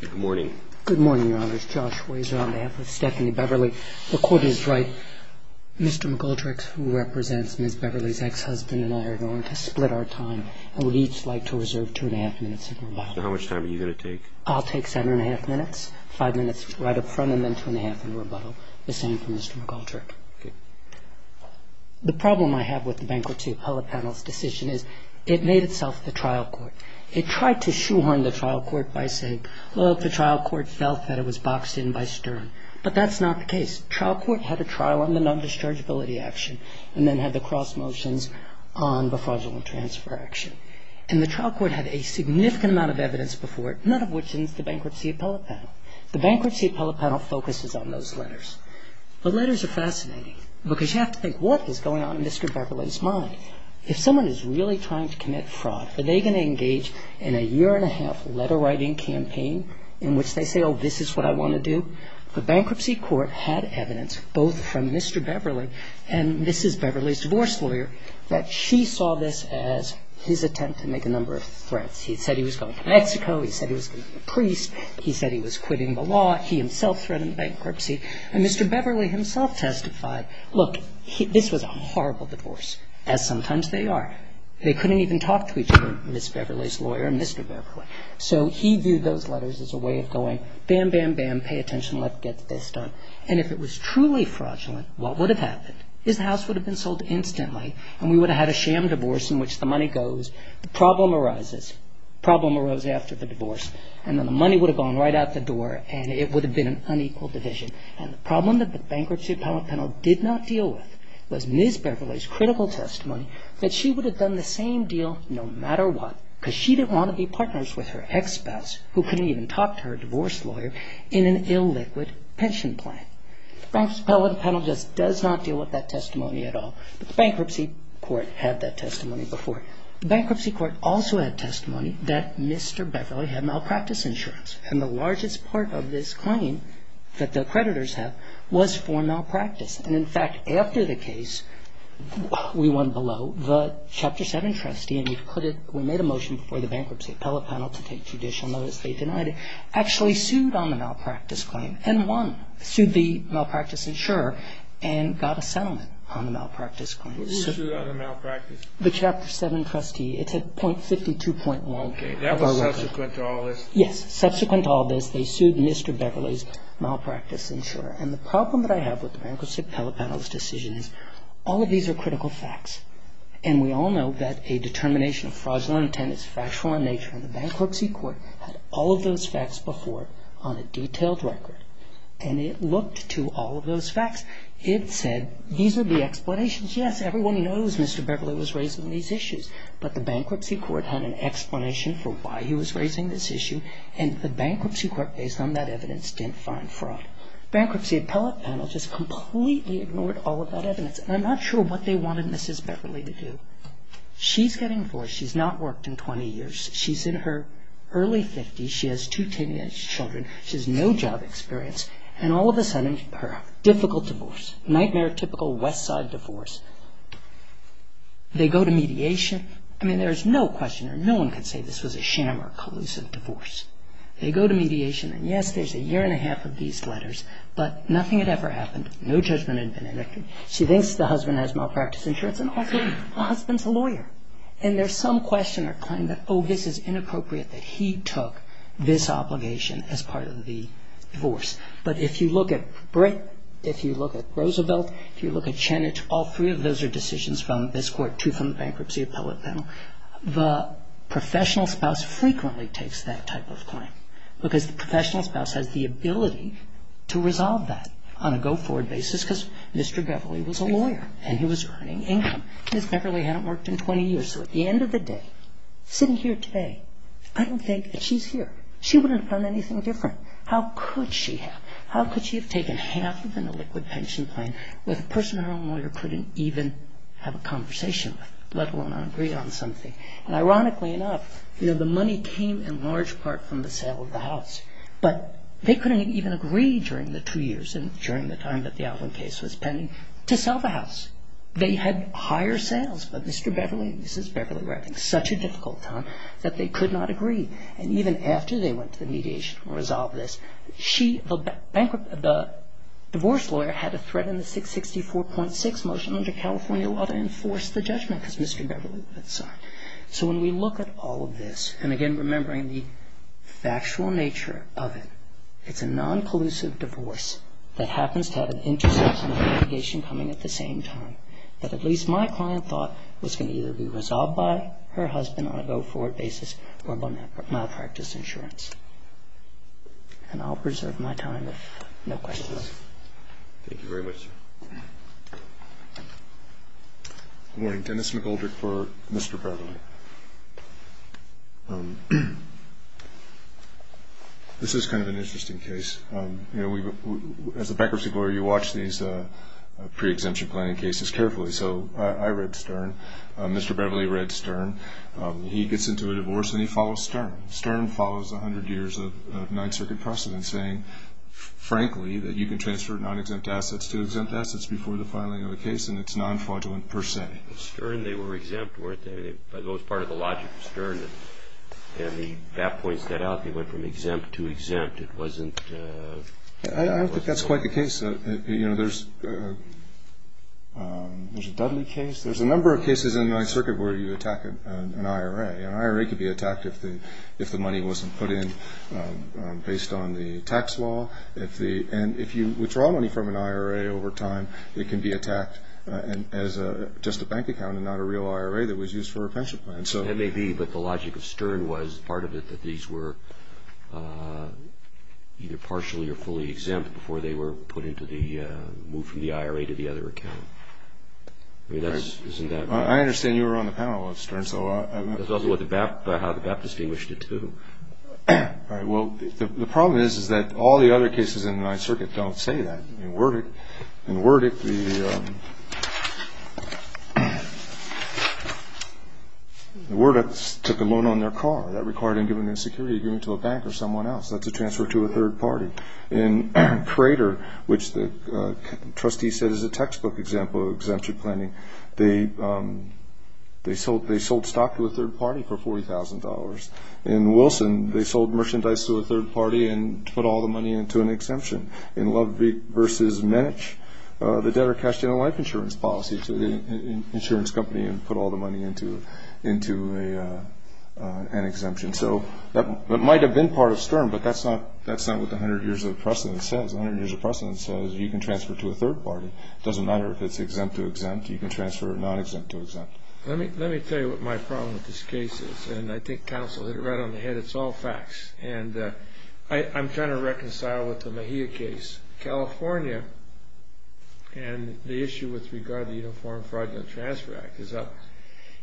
Good morning. Good morning, Your Honors. Josh Wazer on behalf of Stephanie Beverly. The Court is right. Mr. McGoldrick, who represents Ms. Beverly's ex-husband and I, are going to split our time, and we'd each like to reserve 2 1⁄2 minutes in rebuttal. How much time are you going to take? I'll take 7 1⁄2 minutes, 5 minutes right up front, and then 2 1⁄2 in rebuttal. The same for Mr. McGoldrick. The problem I have with the Bankruptcy Appellate Panel's decision is it made itself the trial court. It tried to shoehorn the trial court by saying, look, the trial court felt that it was boxed in by Stern. But that's not the case. The trial court had a trial on the non-dischargeability action and then had the cross motions on the fraudulent transfer action. And the trial court had a significant amount of evidence before it, none of which is the Bankruptcy Appellate Panel. The Bankruptcy Appellate Panel focuses on those letters. The letters are fascinating because you have to think, what is going on in Mr. Beverly's mind? If someone is really trying to commit fraud, are they going to engage in a year-and-a-half letter-writing campaign in which they say, oh, this is what I want to do? The Bankruptcy Court had evidence, both from Mr. Beverly and Mrs. Beverly's divorce lawyer, that she saw this as his attempt to make a number of threats. He said he was going to Mexico. He said he was going to be a priest. He said he was quitting the law. He himself threatened bankruptcy. And Mr. Beverly himself testified, look, this was a horrible divorce, as sometimes they are. They couldn't even talk to each other, Mrs. Beverly's lawyer and Mr. Beverly. So he viewed those letters as a way of going, bam, bam, bam, pay attention, let's get this done. And if it was truly fraudulent, what would have happened? His house would have been sold instantly and we would have had a sham divorce in which the money goes. The problem arises. The problem arose after the divorce. And then the money would have gone right out the door and it would have been an unequal division. And the problem that the Bankruptcy Court panel did not deal with was Mrs. Beverly's critical testimony that she would have done the same deal no matter what because she didn't want to be partners with her ex-spouse who couldn't even talk to her divorce lawyer in an illiquid pension plan. The Bankruptcy Court panel just does not deal with that testimony at all. The Bankruptcy Court had that testimony before. The Bankruptcy Court also had testimony that Mr. Beverly had malpractice insurance. And the largest part of this claim that the creditors have was for malpractice. And, in fact, after the case we went below, the Chapter 7 trustee, and we made a motion before the Bankruptcy Appellate panel to take judicial notice, they denied it, actually sued on the malpractice claim and won, sued the malpractice insurer and got a settlement on the malpractice claim. Who sued on the malpractice? The Chapter 7 trustee. It's at .52.1. Okay. That was subsequent to all this? Yes. Subsequent to all this, they sued Mr. Beverly's malpractice insurer. And the problem that I have with the Bankruptcy Appellate panel's decision is all of these are critical facts. And we all know that a determination of fraudulent attendance, factual in nature in the Bankruptcy Court had all of those facts before on a detailed record. And it looked to all of those facts. It said these are the explanations. Yes, everyone knows Mr. Beverly was raising these issues. But the Bankruptcy Court had an explanation for why he was raising this issue. And the Bankruptcy Court, based on that evidence, didn't find fraud. Bankruptcy Appellate panel just completely ignored all of that evidence. And I'm not sure what they wanted Mrs. Beverly to do. She's getting divorced. She's not worked in 20 years. She's in her early 50s. She has two teenage children. She has no job experience. And all of a sudden, her difficult divorce, nightmare typical West Side divorce. They go to mediation. I mean, there's no question or no one can say this was a sham or a collusive divorce. They go to mediation. And yes, there's a year and a half of these letters. But nothing had ever happened. No judgment had been enacted. She thinks the husband has malpractice insurance. And also, the husband's a lawyer. And there's some question or claim that, oh, this is inappropriate that he took this obligation as part of the divorce. But if you look at Britt, if you look at Roosevelt, if you look at Chanage, all three of those are decisions from this court, two from the Bankruptcy Appellate panel. The professional spouse frequently takes that type of claim. Because the professional spouse has the ability to resolve that on a go-forward basis. Because Mr. Beverly was a lawyer. And he was earning income. Mrs. Beverly hadn't worked in 20 years. So at the end of the day, sitting here today, I don't think that she's here. She wouldn't have done anything different. How could she have? How could she have taken half of an illiquid pension plan with a person her own lawyer couldn't even have a conversation with, let alone agree on something? And ironically enough, the money came in large part from the sale of the house. But they couldn't even agree during the two years and during the time that the Alvin case was pending to sell the house. They had higher sales. But Mr. Beverly and Mrs. Beverly were having such a difficult time that they could not agree. And even after they went to the mediation to resolve this, the divorce lawyer had to threaten the 664.6 motion under California law to enforce the judgment because Mr. Beverly was the son. So when we look at all of this, and again remembering the factual nature of it, it's a non-collusive divorce that happens to have an intersection of litigation coming at the same time. But at least my client thought it was going to either be resolved by her husband on a go-forward basis or by my practice insurance. And I'll preserve my time if no questions. Thank you very much. Good morning. Dennis McGoldrick for Mr. Beverly. This is kind of an interesting case. As a bankruptcy lawyer, you watch these pre-exemption planning cases carefully. So I read Stern. Mr. Beverly read Stern. He gets into a divorce, and he follows Stern. Stern follows 100 years of Ninth Circuit precedent saying, frankly, that you can transfer non-exempt assets to exempt assets before the filing of a case, and it's non-fraudulent per se. With Stern, they were exempt, weren't they? It was part of the logic of Stern. And the BAP points that out. They went from exempt to exempt. I don't think that's quite the case. You know, there's a Dudley case. There's a number of cases in Ninth Circuit where you attack an IRA. An IRA could be attacked if the money wasn't put in based on the tax law. And if you withdraw money from an IRA over time, it can be attacked as just a bank account and not a real IRA that was used for a pension plan. That may be, but the logic of Stern was part of it that these were either partially or fully exempt before they were put into the move from the IRA to the other account. I mean, isn't that right? I understand you were on the panel with Stern. That's also how the BAP distinguished it, too. All right, well, the problem is that all the other cases in Ninth Circuit don't say that. In Werdick, the Werdicks took a loan on their car. That required them to give them their security agreement to a bank or someone else. That's a transfer to a third party. In Crater, which the trustee said is a textbook example of exemption planning, they sold stock to a third party for $40,000. In Wilson, they sold merchandise to a third party and put all the money into an exemption. In Ludwig v. Minich, the debtor cashed in a life insurance policy to an insurance company and put all the money into an exemption. So that might have been part of Stern, but that's not what the 100 years of precedent says. The 100 years of precedent says you can transfer to a third party. It doesn't matter if it's exempt to exempt. You can transfer non-exempt to exempt. Let me tell you what my problem with this case is, and I think counsel hit it right on the head. It's all facts. I'm trying to reconcile with the Mejia case. California and the issue with regard to the Uniform Fraud and Transfer Act is up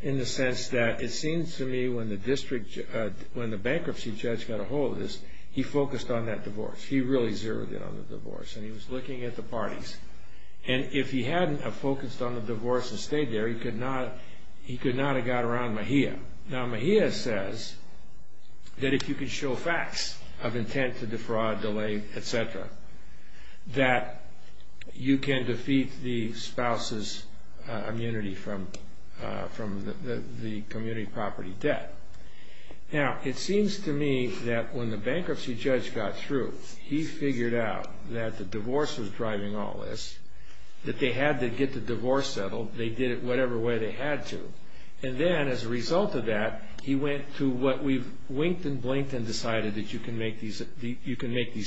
in the sense that it seems to me when the bankruptcy judge got a hold of this, he focused on that divorce. He really zeroed in on the divorce, and he was looking at the parties. If he hadn't focused on the divorce and stayed there, he could not have got around Mejia. Now, Mejia says that if you can show facts of intent to defraud, delay, etc., that you can defeat the spouse's immunity from the community property debt. Now, it seems to me that when the bankruptcy judge got through, he figured out that the divorce was driving all this, that they had to get the divorce settled. They did it whatever way they had to. And then, as a result of that, he went to what we've winked and blinked and decided, that you can make these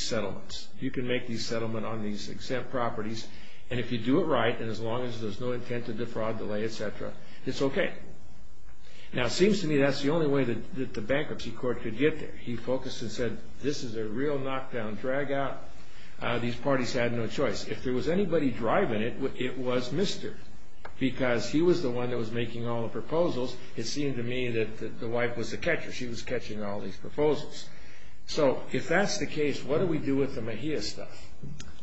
settlements. You can make these settlements on these exempt properties, and if you do it right, and as long as there's no intent to defraud, delay, etc., it's okay. Now, it seems to me that's the only way that the bankruptcy court could get there. He focused and said, this is a real knockdown dragout. These parties had no choice. If there was anybody driving it, it was Mr. because he was the one that was making all the proposals. It seemed to me that the wife was the catcher. She was catching all these proposals. So if that's the case, what do we do with the Mejia stuff?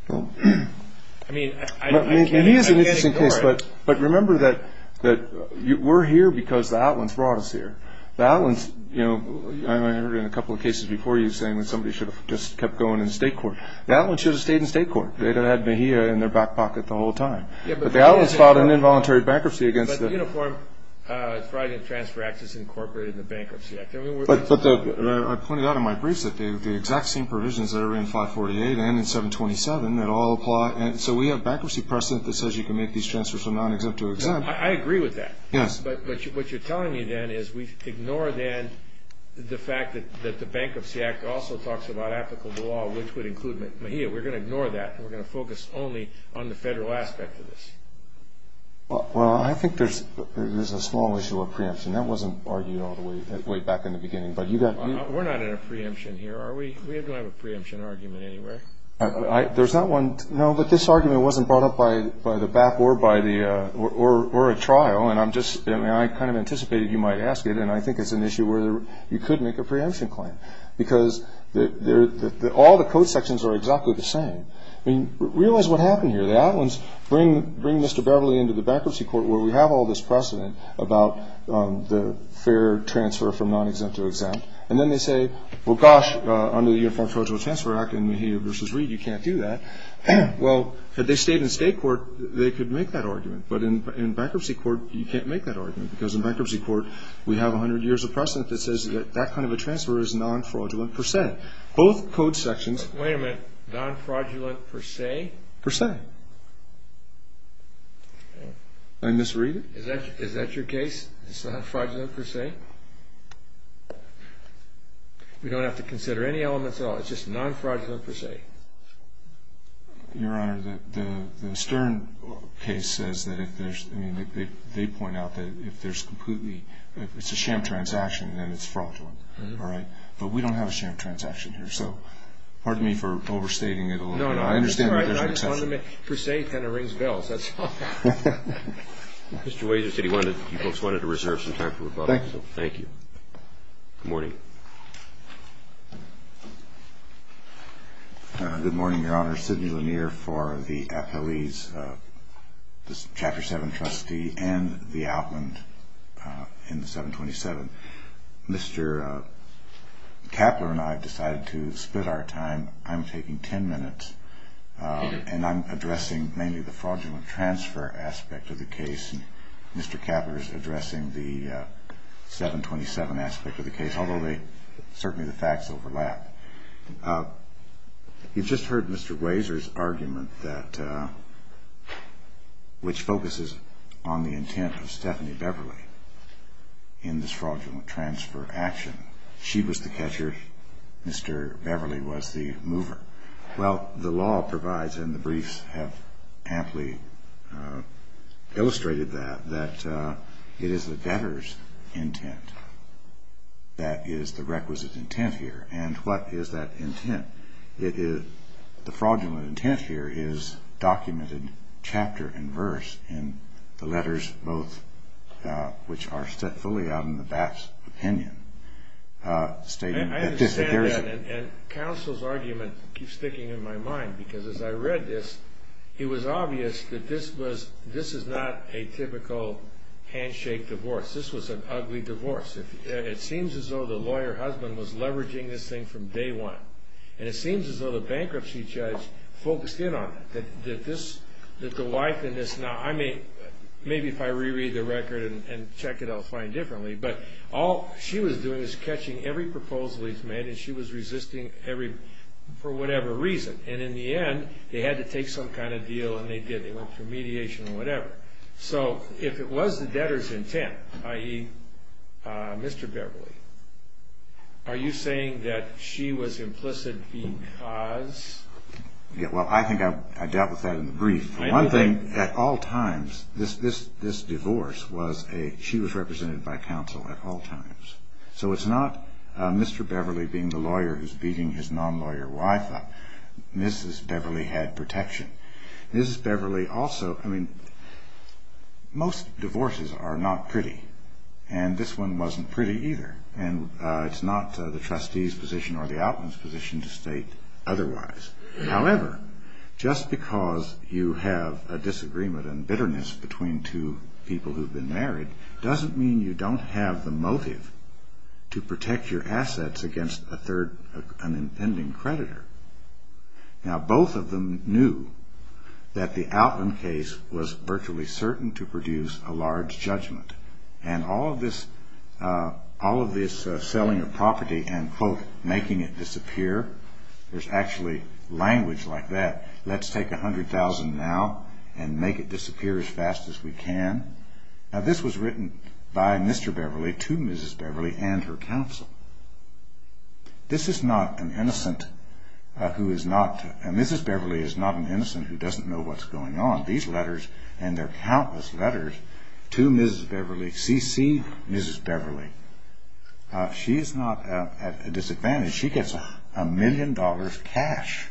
I mean, I can't ignore it. But remember that we're here because the outlands brought us here. The outlands, you know, I heard in a couple of cases before you saying that somebody should have just kept going in state court. The outlands should have stayed in state court. They'd have had Mejia in their back pocket the whole time. But the outlands filed an involuntary bankruptcy against them. But the Uniform Fraud and Transfer Act is incorporated in the Bankruptcy Act. But I pointed out in my briefs that the exact same provisions that are in 548 and in 727, that all apply. So we have bankruptcy precedent that says you can make these transfers from non-exempt to exempt. I agree with that. Yes. But what you're telling me, then, is we ignore, then, the fact that the Bankruptcy Act also talks about applicable law, which would include Mejia. We're going to ignore that, and we're going to focus only on the federal aspect of this. Well, I think there's a small issue of preemption. That wasn't argued all the way back in the beginning. We're not in a preemption here, are we? We don't have a preemption argument anywhere. There's not one. No, but this argument wasn't brought up by the BAP or a trial. And I kind of anticipated you might ask it. And I think it's an issue where you could make a preemption claim, because all the code sections are exactly the same. I mean, realize what happened here. The Outlands bring Mr. Beverly into the bankruptcy court where we have all this precedent about the fair transfer from non-exempt to exempt. And then they say, well, gosh, under the Uniform Federal Transfer Act and Mejia v. Reed, you can't do that. Well, had they stayed in state court, they could make that argument. But in bankruptcy court, you can't make that argument, because in bankruptcy court we have 100 years of precedent that says that kind of a transfer is non-fraudulent per se. Both code sections – Wait a minute. Non-fraudulent per se? Per se. Did I misread it? Is that your case? It's not fraudulent per se? We don't have to consider any elements at all. It's just non-fraudulent per se. Your Honor, the Stern case says that if there's – I mean, they point out that if there's completely – if it's a sham transaction, then it's fraudulent. All right? But we don't have a sham transaction here. So pardon me for overstating it a little bit. No, no. I understand that there's an exception. No, no. I just wanted to make – per se, it kind of rings bells. That's all. Mr. Wazier said he wanted – you folks wanted to reserve some time for rebuttal. Thank you. Good morning. Good morning, Your Honor. Sidney Lanier for the appellees, the Chapter 7 trustee and the outland in the 727. Mr. Kapler and I have decided to split our time. I'm taking 10 minutes, and I'm addressing mainly the fraudulent transfer aspect of the case. And Mr. Kapler is addressing the 727 aspect of the case, although they – certainly the facts overlap. You've just heard Mr. Wazier's argument that – which focuses on the intent of Stephanie Beverly in this fraudulent transfer action. She was the catcher. Mr. Beverly was the mover. Well, the law provides, and the briefs have amply illustrated that, that it is the debtor's intent that is the requisite intent here. And what is that intent? It is – the fraudulent intent here is documented chapter and verse in the letters, both – which are set fully out in the BAP's opinion. I understand that, and counsel's argument keeps sticking in my mind, because as I read this, it was obvious that this was – this is not a typical handshake divorce. This was an ugly divorce. It seems as though the lawyer husband was leveraging this thing from day one. And it seems as though the bankruptcy judge focused in on it, that this – that the wife in this – now, I may – maybe if I reread the record and check it, I'll find differently. But all she was doing is catching every proposal he's made, and she was resisting every – for whatever reason. And in the end, they had to take some kind of deal, and they did. They went for mediation or whatever. So if it was the debtor's intent, i.e., Mr. Beverly, are you saying that she was implicit because – Yeah, well, I think I dealt with that in the brief. One thing, at all times, this divorce was a – she was represented by counsel at all times. So it's not Mr. Beverly being the lawyer who's beating his non-lawyer wife up. Mrs. Beverly had protection. Mrs. Beverly also – I mean, most divorces are not pretty, and this one wasn't pretty either. And it's not the trustee's position or the outland's position to state otherwise. However, just because you have a disagreement and bitterness between two people who've been married doesn't mean you don't have the motive to protect your assets against a third – an impending creditor. Now, both of them knew that the outland case was virtually certain to produce a large judgment. And all of this selling of property and, quote, making it disappear, there's actually language like that. Let's take $100,000 now and make it disappear as fast as we can. Now, this was written by Mr. Beverly to Mrs. Beverly and her counsel. This is not an innocent who is not – Mrs. Beverly is not an innocent who doesn't know what's going on. And there are countless letters to Mrs. Beverly, C.C. Mrs. Beverly. She is not at a disadvantage. She gets a million dollars cash,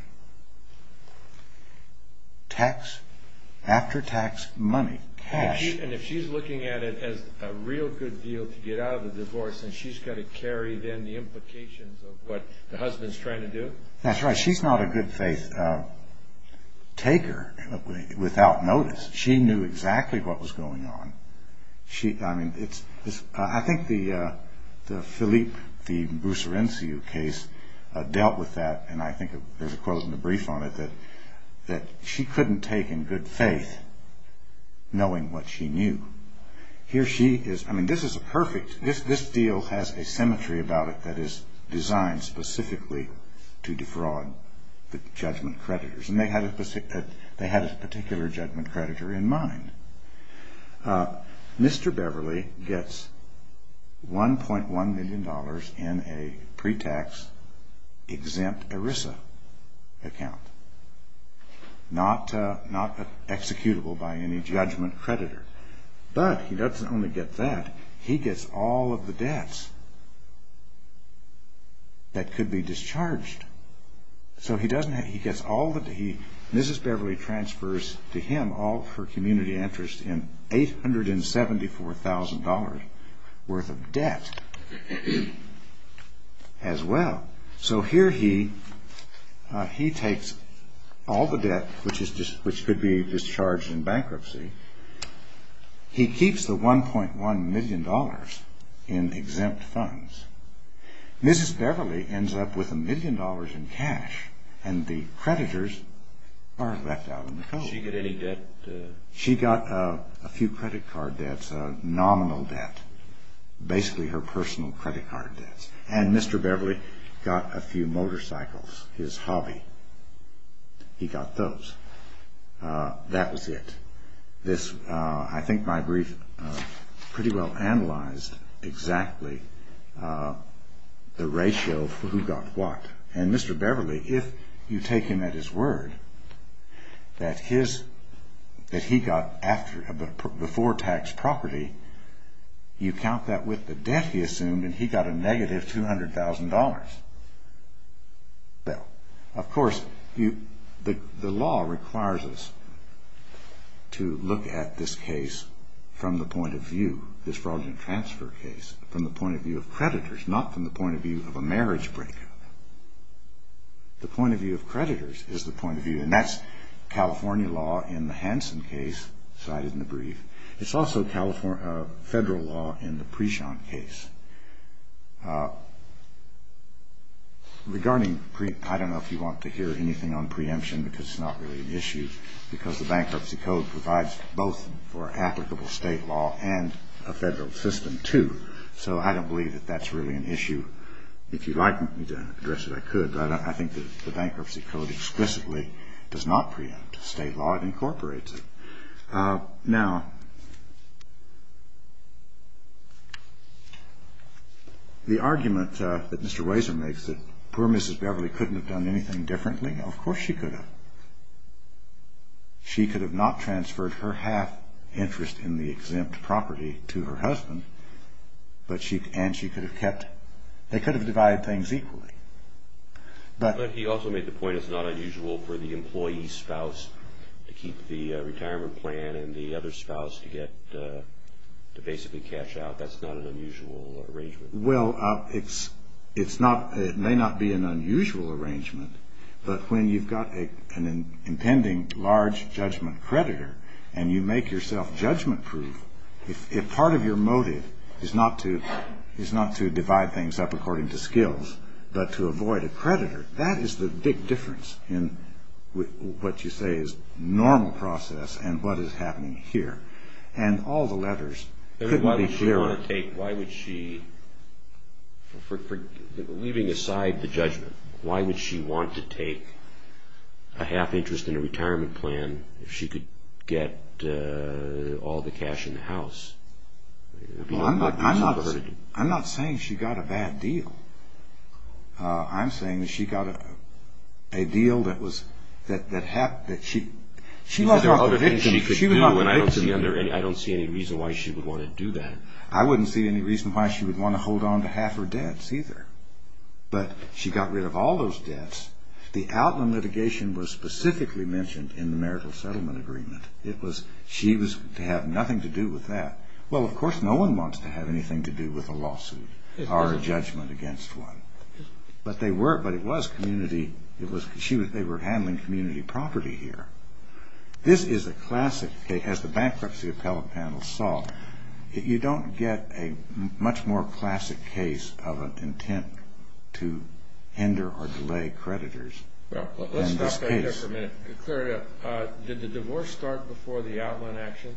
tax – after-tax money, cash. And if she's looking at it as a real good deal to get out of the divorce and she's got to carry, then, the implications of what the husband's trying to do? That's right. And she's not a good-faith taker without notice. She knew exactly what was going on. I mean, it's – I think the Philippe – the Bussarinci case dealt with that, and I think there's a quote in the brief on it that she couldn't take in good faith knowing what she knew. Here she is – I mean, this is a perfect – this deal has a symmetry about it that is designed specifically to defraud the judgment creditors. And they had a particular judgment creditor in mind. Mr. Beverly gets $1.1 million in a pre-tax exempt ERISA account, not executable by any judgment creditor. But he doesn't only get that. He gets all of the debts that could be discharged. So he doesn't – he gets all the – Mrs. Beverly transfers to him all of her community interest in $874,000 worth of debt as well. So here he takes all the debt which could be discharged in bankruptcy. He keeps the $1.1 million in exempt funds. Mrs. Beverly ends up with $1 million in cash, and the creditors are left out in the cold. Did she get any debt? She got a few credit card debts, a nominal debt, basically her personal credit card debts. And Mr. Beverly got a few motorcycles, his hobby. He got those. That was it. This – I think my brief pretty well analyzed exactly the ratio for who got what. And Mr. Beverly, if you take him at his word that his – that he got after – before tax property, you count that with the debt he assumed, and he got a negative $200,000. Well, of course, the law requires us to look at this case from the point of view, this fraudulent transfer case, from the point of view of creditors, not from the point of view of a marriage breakup. The point of view of creditors is the point of view, and that's California law in the Hanson case cited in the brief. It's also California – federal law in the Prishon case. Regarding – I don't know if you want to hear anything on preemption because it's not really an issue because the Bankruptcy Code provides both for applicable state law and a federal system too. So I don't believe that that's really an issue. If you'd like me to address it, I could, but I think that the Bankruptcy Code explicitly does not preempt state law. It incorporates it. Now, the argument that Mr. Wazer makes that poor Mrs. Beverly couldn't have done anything differently, of course she could have. She could have not transferred her half interest in the exempt property to her husband, and she could have kept – they could have divided things equally. But he also made the point it's not unusual for the employee's spouse to keep the retirement plan and the other spouse to get – to basically cash out. That's not an unusual arrangement. Well, it's not – it may not be an unusual arrangement, but when you've got an impending large judgment creditor and you make yourself judgment-proof, if part of your motive is not to divide things up according to skills but to avoid a creditor, that is the big difference in what you say is normal process and what is happening here. And all the levers couldn't be clearer. Why would she want to take – why would she – leaving aside the judgment, why would she want to take a half interest in a retirement plan if she could get all the cash in the house? Well, I'm not saying she got a bad deal. I'm saying that she got a deal that was – that she – Because there are other things she could do, and I don't see any reason why she would want to do that. I wouldn't see any reason why she would want to hold on to half her debts either. But she got rid of all those debts. The Altman litigation was specifically mentioned in the marital settlement agreement. It was – she was to have nothing to do with that. Well, of course, no one wants to have anything to do with a lawsuit or a judgment against one. But they were – but it was community – it was – she was – they were handling community property here. This is a classic case. As the bankruptcy appellate panel saw, you don't get a much more classic case of an intent to hinder or delay creditors in this case. Well, let's stop right there for a minute and clear it up. Did the divorce start before the Altman action?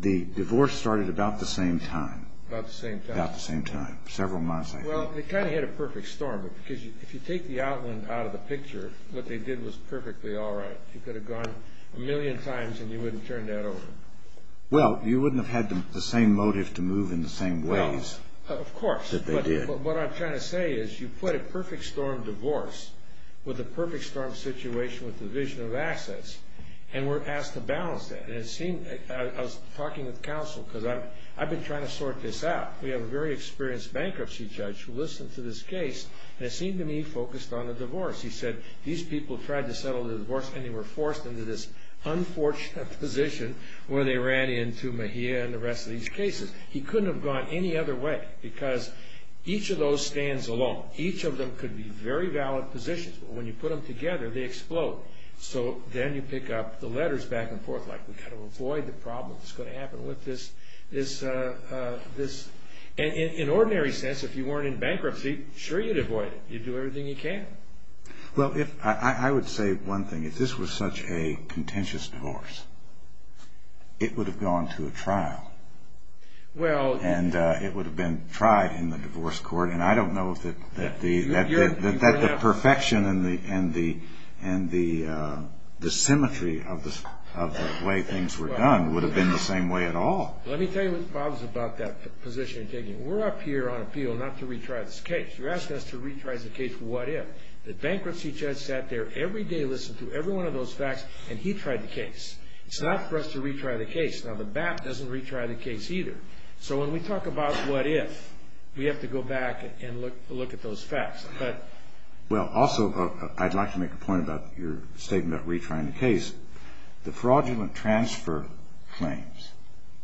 The divorce started about the same time. About the same time. About the same time, several months, I think. Well, it kind of hit a perfect storm because if you take the Altman out of the picture, what they did was perfectly all right. You could have gone a million times and you wouldn't have turned that over. Well, you wouldn't have had the same motive to move in the same ways that they did. Well, of course, but what I'm trying to say is you put a perfect storm divorce with a perfect storm situation with the vision of assets, and we're asked to balance that. And it seemed – I was talking with counsel because I've been trying to sort this out. We have a very experienced bankruptcy judge who listened to this case, and it seemed to me focused on the divorce. He said these people tried to settle the divorce and they were forced into this unfortunate position where they ran into Mejia and the rest of these cases. He couldn't have gone any other way because each of those stands alone. Each of them could be very valid positions, but when you put them together, they explode. So then you pick up the letters back and forth like we've got to avoid the problem that's going to happen with this. And in an ordinary sense, if you weren't in bankruptcy, sure you'd avoid it. You'd do everything you can. Well, I would say one thing. If this was such a contentious divorce, it would have gone to a trial. And it would have been tried in the divorce court, and I don't know that the perfection and the symmetry of the way things were done would have been the same way at all. Let me tell you what the problem is about that position you're taking. We're up here on appeal not to retry this case. You're asking us to retry the case for what if. The bankruptcy judge sat there every day, listened to every one of those facts, and he tried the case. It's not for us to retry the case. Now, the BAP doesn't retry the case either. So when we talk about what if, we have to go back and look at those facts. Well, also, I'd like to make a point about your statement about retrying the case. The fraudulent transfer claims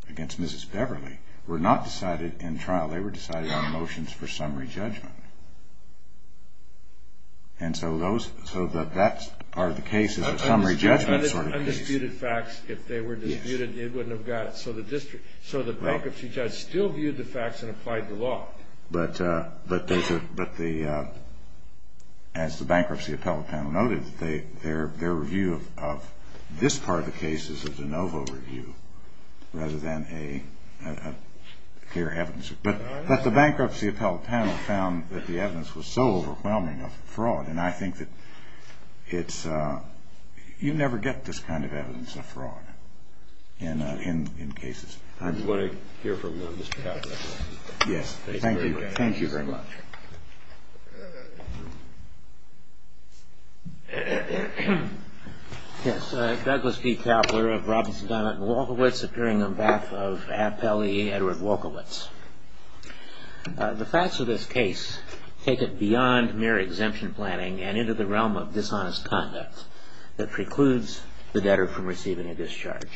against Mrs. Beverly were not decided in trial. They were decided on motions for summary judgment. So that are the cases of summary judgment sort of cases. Undisputed facts, if they were disputed, it wouldn't have got it. So the bankruptcy judge still viewed the facts and applied the law. But as the bankruptcy appellate panel noted, their review of this part of the case is a de novo review rather than a clear evidence. But the bankruptcy appellate panel found that the evidence was so overwhelming of fraud, and I think that you never get this kind of evidence of fraud in cases. I just want to hear from Mr. Kaplan. Yes, thank you. Thank you very much. Yes. Douglas P. Kaplan of Robinson, Donna, and Wolkowitz, appearing on behalf of Appellee Edward Wolkowitz. The facts of this case take it beyond mere exemption planning and into the realm of dishonest conduct that precludes the debtor from receiving a discharge.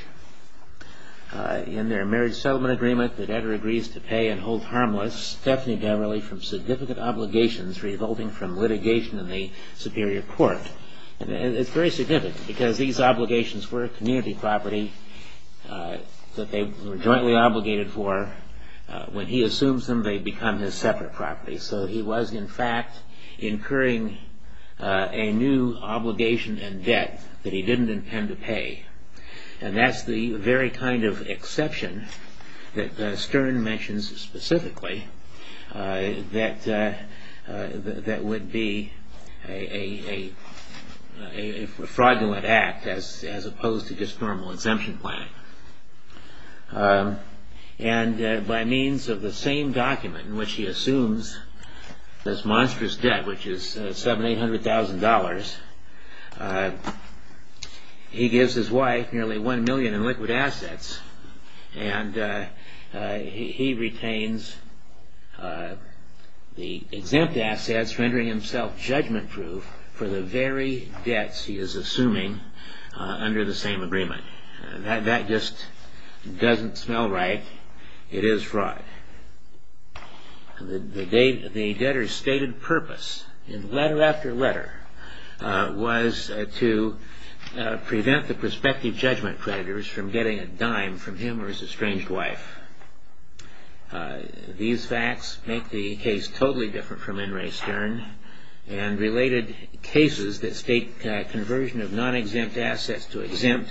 In their marriage settlement agreement, the debtor agrees to pay and hold harmless Stephanie Beverly from significant obligations resulting from litigation in the superior court. And it's very significant because these obligations were a community property that they were jointly obligated for. When he assumes them, they become his separate property. So he was, in fact, incurring a new obligation and debt that he didn't intend to pay. And that's the very kind of exception that Stern mentions specifically that would be a fraudulent act as opposed to just normal exemption planning. And by means of the same document in which he assumes this monstrous debt, which is $700,000, $800,000, he gives his wife nearly $1 million in liquid assets and he retains the exempt assets rendering himself judgment-proof for the very debts he is assuming under the same agreement. That just doesn't smell right. It is fraud. The debtor's stated purpose in letter after letter was to prevent the prospective judgment creditors from getting a dime from him or his estranged wife. These facts make the case totally different from In re Stern and related cases that state conversion of non-exempt assets to exempt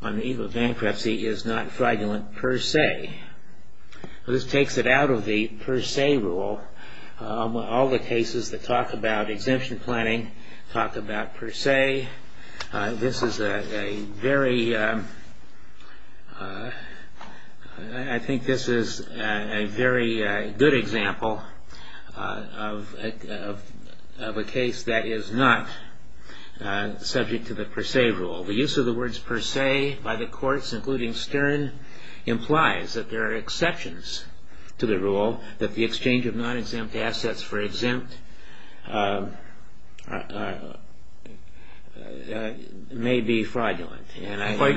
on the eve of bankruptcy is not fraudulent per se. This takes it out of the per se rule. All the cases that talk about exemption planning talk about per se. This is a very good example of a case that is not subject to the per se rule. The use of the words per se by the courts, including Stern, implies that there are exceptions to the rule, that the exchange of non-exempt assets for exempt may be fraudulent.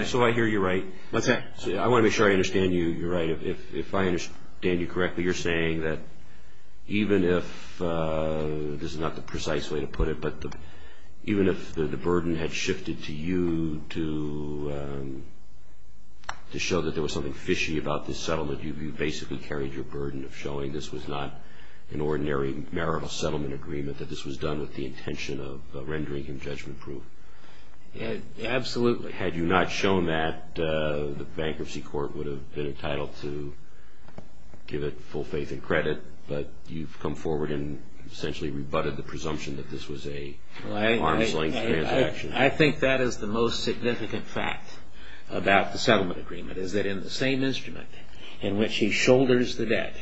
So I hear you right. I want to make sure I understand you right. If I understand you correctly, you're saying that even if, this is not the precise way to put it, but even if the burden had shifted to you to show that there was something fishy about this settlement, you basically carried your burden of showing this was not an ordinary marital settlement agreement, that this was done with the intention of rendering him judgment proof. Absolutely. Had you not shown that, the bankruptcy court would have been entitled to give it full faith and credit, but you've come forward and essentially rebutted the presumption that this was an arm's length transaction. I think that is the most significant fact about the settlement agreement, is that in the same instrument in which he shoulders the debt,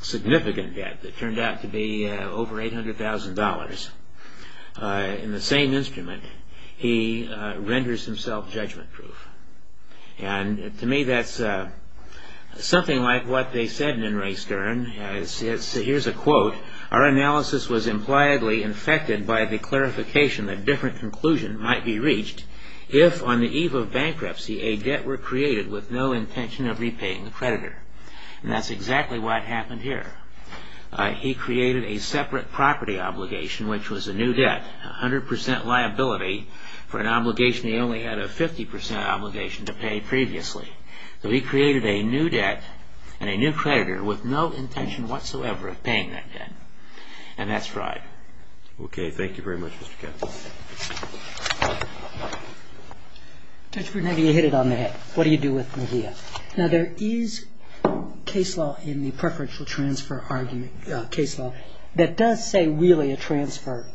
significant debt that turned out to be over $800,000, in the same instrument he renders himself judgment proof. And to me that's something like what they said in Ray Stern. Here's a quote. Our analysis was impliedly infected by the clarification that different conclusions might be reached if on the eve of bankruptcy a debt were created with no intention of repaying the creditor. And that's exactly what happened here. He created a separate property obligation, which was a new debt, a 100% liability for an obligation he only had a 50% obligation to pay previously. So he created a new debt and a new creditor with no intention whatsoever of paying that debt. And that's right. Okay, thank you very much, Mr. Kennedy. Judge Borden, have you hit it on the head? What do you do with Medea? Now there is case law in the preferential transfer argument, case law, that does say really a transfer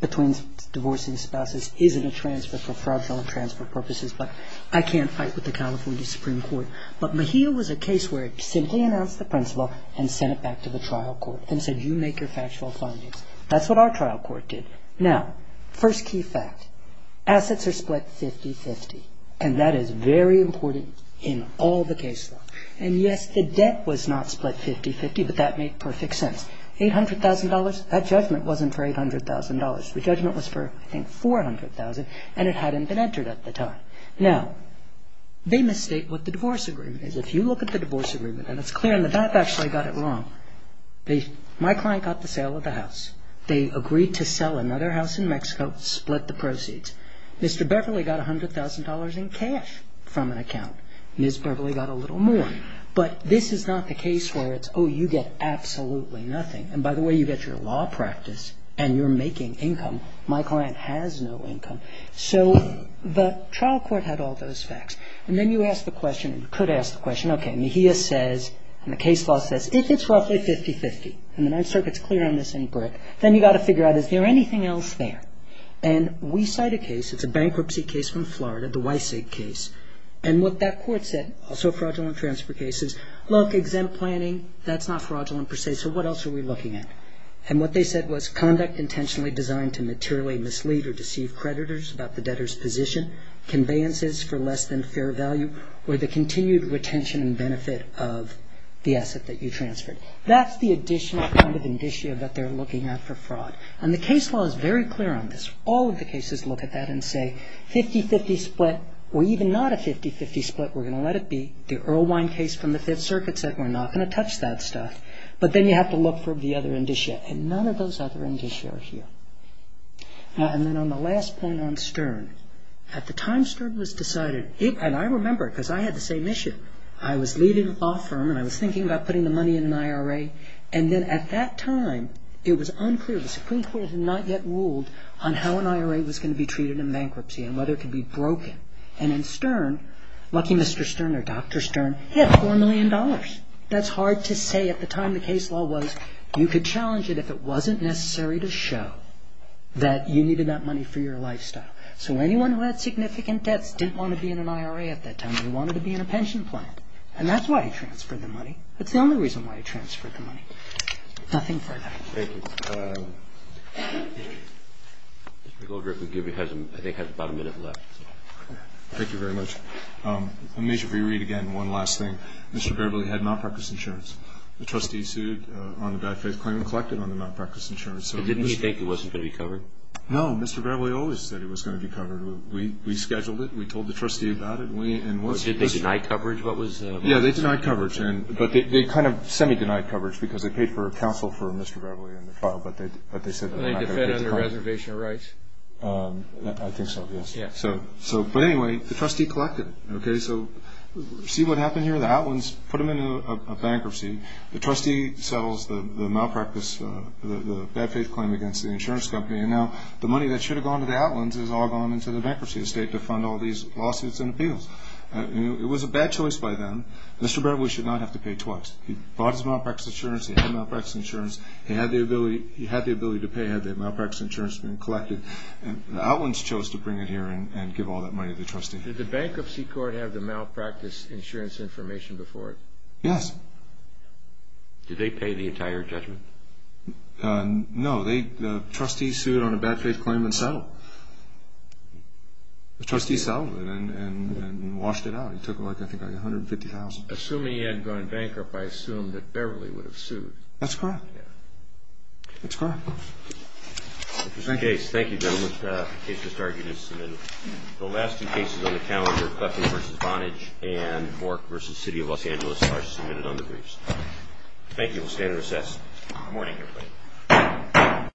between divorcing spouses isn't a transfer for preferential and transfer purposes, but I can't fight with the California Supreme Court. But Medea was a case where it simply announced the principle and sent it back to the trial court and said you make your factual findings. That's what our trial court did. Now, first key fact, assets are split 50-50, and that is very important in all the case law. And yes, the debt was not split 50-50, but that made perfect sense. $800,000, that judgment wasn't for $800,000. The judgment was for, I think, $400,000, and it hadn't been entered at the time. Now, they mistake what the divorce agreement is. If you look at the divorce agreement, and it's clear in the fact I actually got it wrong, my client got the sale of the house. They agreed to sell another house in Mexico, split the proceeds. Mr. Beverly got $100,000 in cash from an account. Ms. Beverly got a little more. But this is not the case where it's, oh, you get absolutely nothing. And by the way, you get your law practice and you're making income. My client has no income. So the trial court had all those facts. And then you ask the question, and you could ask the question, okay, Medea says, and the case law says, if it's roughly 50-50, and the Ninth Circuit's clear on this in brick, then you've got to figure out is there anything else there. And we cite a case, it's a bankruptcy case from Florida, the Wysig case. And what that court said, also fraudulent transfer cases, look, exempt planning, that's not fraudulent per se, so what else are we looking at? And what they said was conduct intentionally designed to materially mislead or deceive creditors about the debtor's position, conveyances for less than fair value, or the continued retention and benefit of the asset that you transferred. That's the additional kind of indicia that they're looking at for fraud. And the case law is very clear on this. All of the cases look at that and say 50-50 split, or even not a 50-50 split, we're going to let it be. The Earlwine case from the Fifth Circuit said we're not going to touch that stuff. But then you have to look for the other indicia. And none of those other indicia are here. And then on the last point on Stern, at the time Stern was decided, and I remember it because I had the same issue, I was leading a law firm and I was thinking about putting the money in an IRA, and then at that time it was unclear. The Supreme Court had not yet ruled on how an IRA was going to be treated in bankruptcy and whether it could be broken. And in Stern, lucky Mr. Stern or Dr. Stern, he had $4 million. That's hard to say at the time the case law was. You could challenge it if it wasn't necessary to show that you needed that money for your lifestyle. So anyone who had significant debts didn't want to be in an IRA at that time. They wanted to be in a pension plan. And that's why he transferred the money. That's the only reason why he transferred the money. Nothing further. Thank you. Mr. Goldrick, I think you have about a minute left. Thank you very much. Let me just re-read again one last thing. Mr. Beverly had malpractice insurance. The trustee sued on the bad faith claim and collected on the malpractice insurance. Didn't he think it wasn't going to be covered? No. Mr. Beverly always said it was going to be covered. We scheduled it. We told the trustee about it. Did they deny coverage? Yeah, they denied coverage. But they kind of semi-denied coverage because they paid for counsel for Mr. Beverly in the trial, but they said they were not going to pay for coverage. Did they defend under reservation of rights? I think so, yes. But anyway, the trustee collected it. Okay, so see what happened here? The Outlands put him in a bankruptcy. The trustee settles the malpractice, the bad faith claim against the insurance company, and now the money that should have gone to the Outlands has all gone into the bankruptcy estate to fund all these lawsuits and appeals. It was a bad choice by them. Mr. Beverly should not have to pay twice. He bought his malpractice insurance. He had malpractice insurance. He had the ability to pay had the malpractice insurance been collected. The Outlands chose to bring it here and give all that money to the trustee. Did the bankruptcy court have the malpractice insurance information before it? Yes. Did they pay the entire judgment? No. The trustees sued on a bad faith claim and settled. The trustees settled it and washed it out. It took, I think, like $150,000. Assuming he hadn't gone bankrupt, I assume that Beverly would have sued. That's correct. That's correct. Thank you. Thank you, gentlemen. The case has started. The last two cases on the calendar, Clefty v. Vonage and Bork v. City of Los Angeles, are submitted on the briefs. Thank you. We'll stay in recess. Good morning, everybody.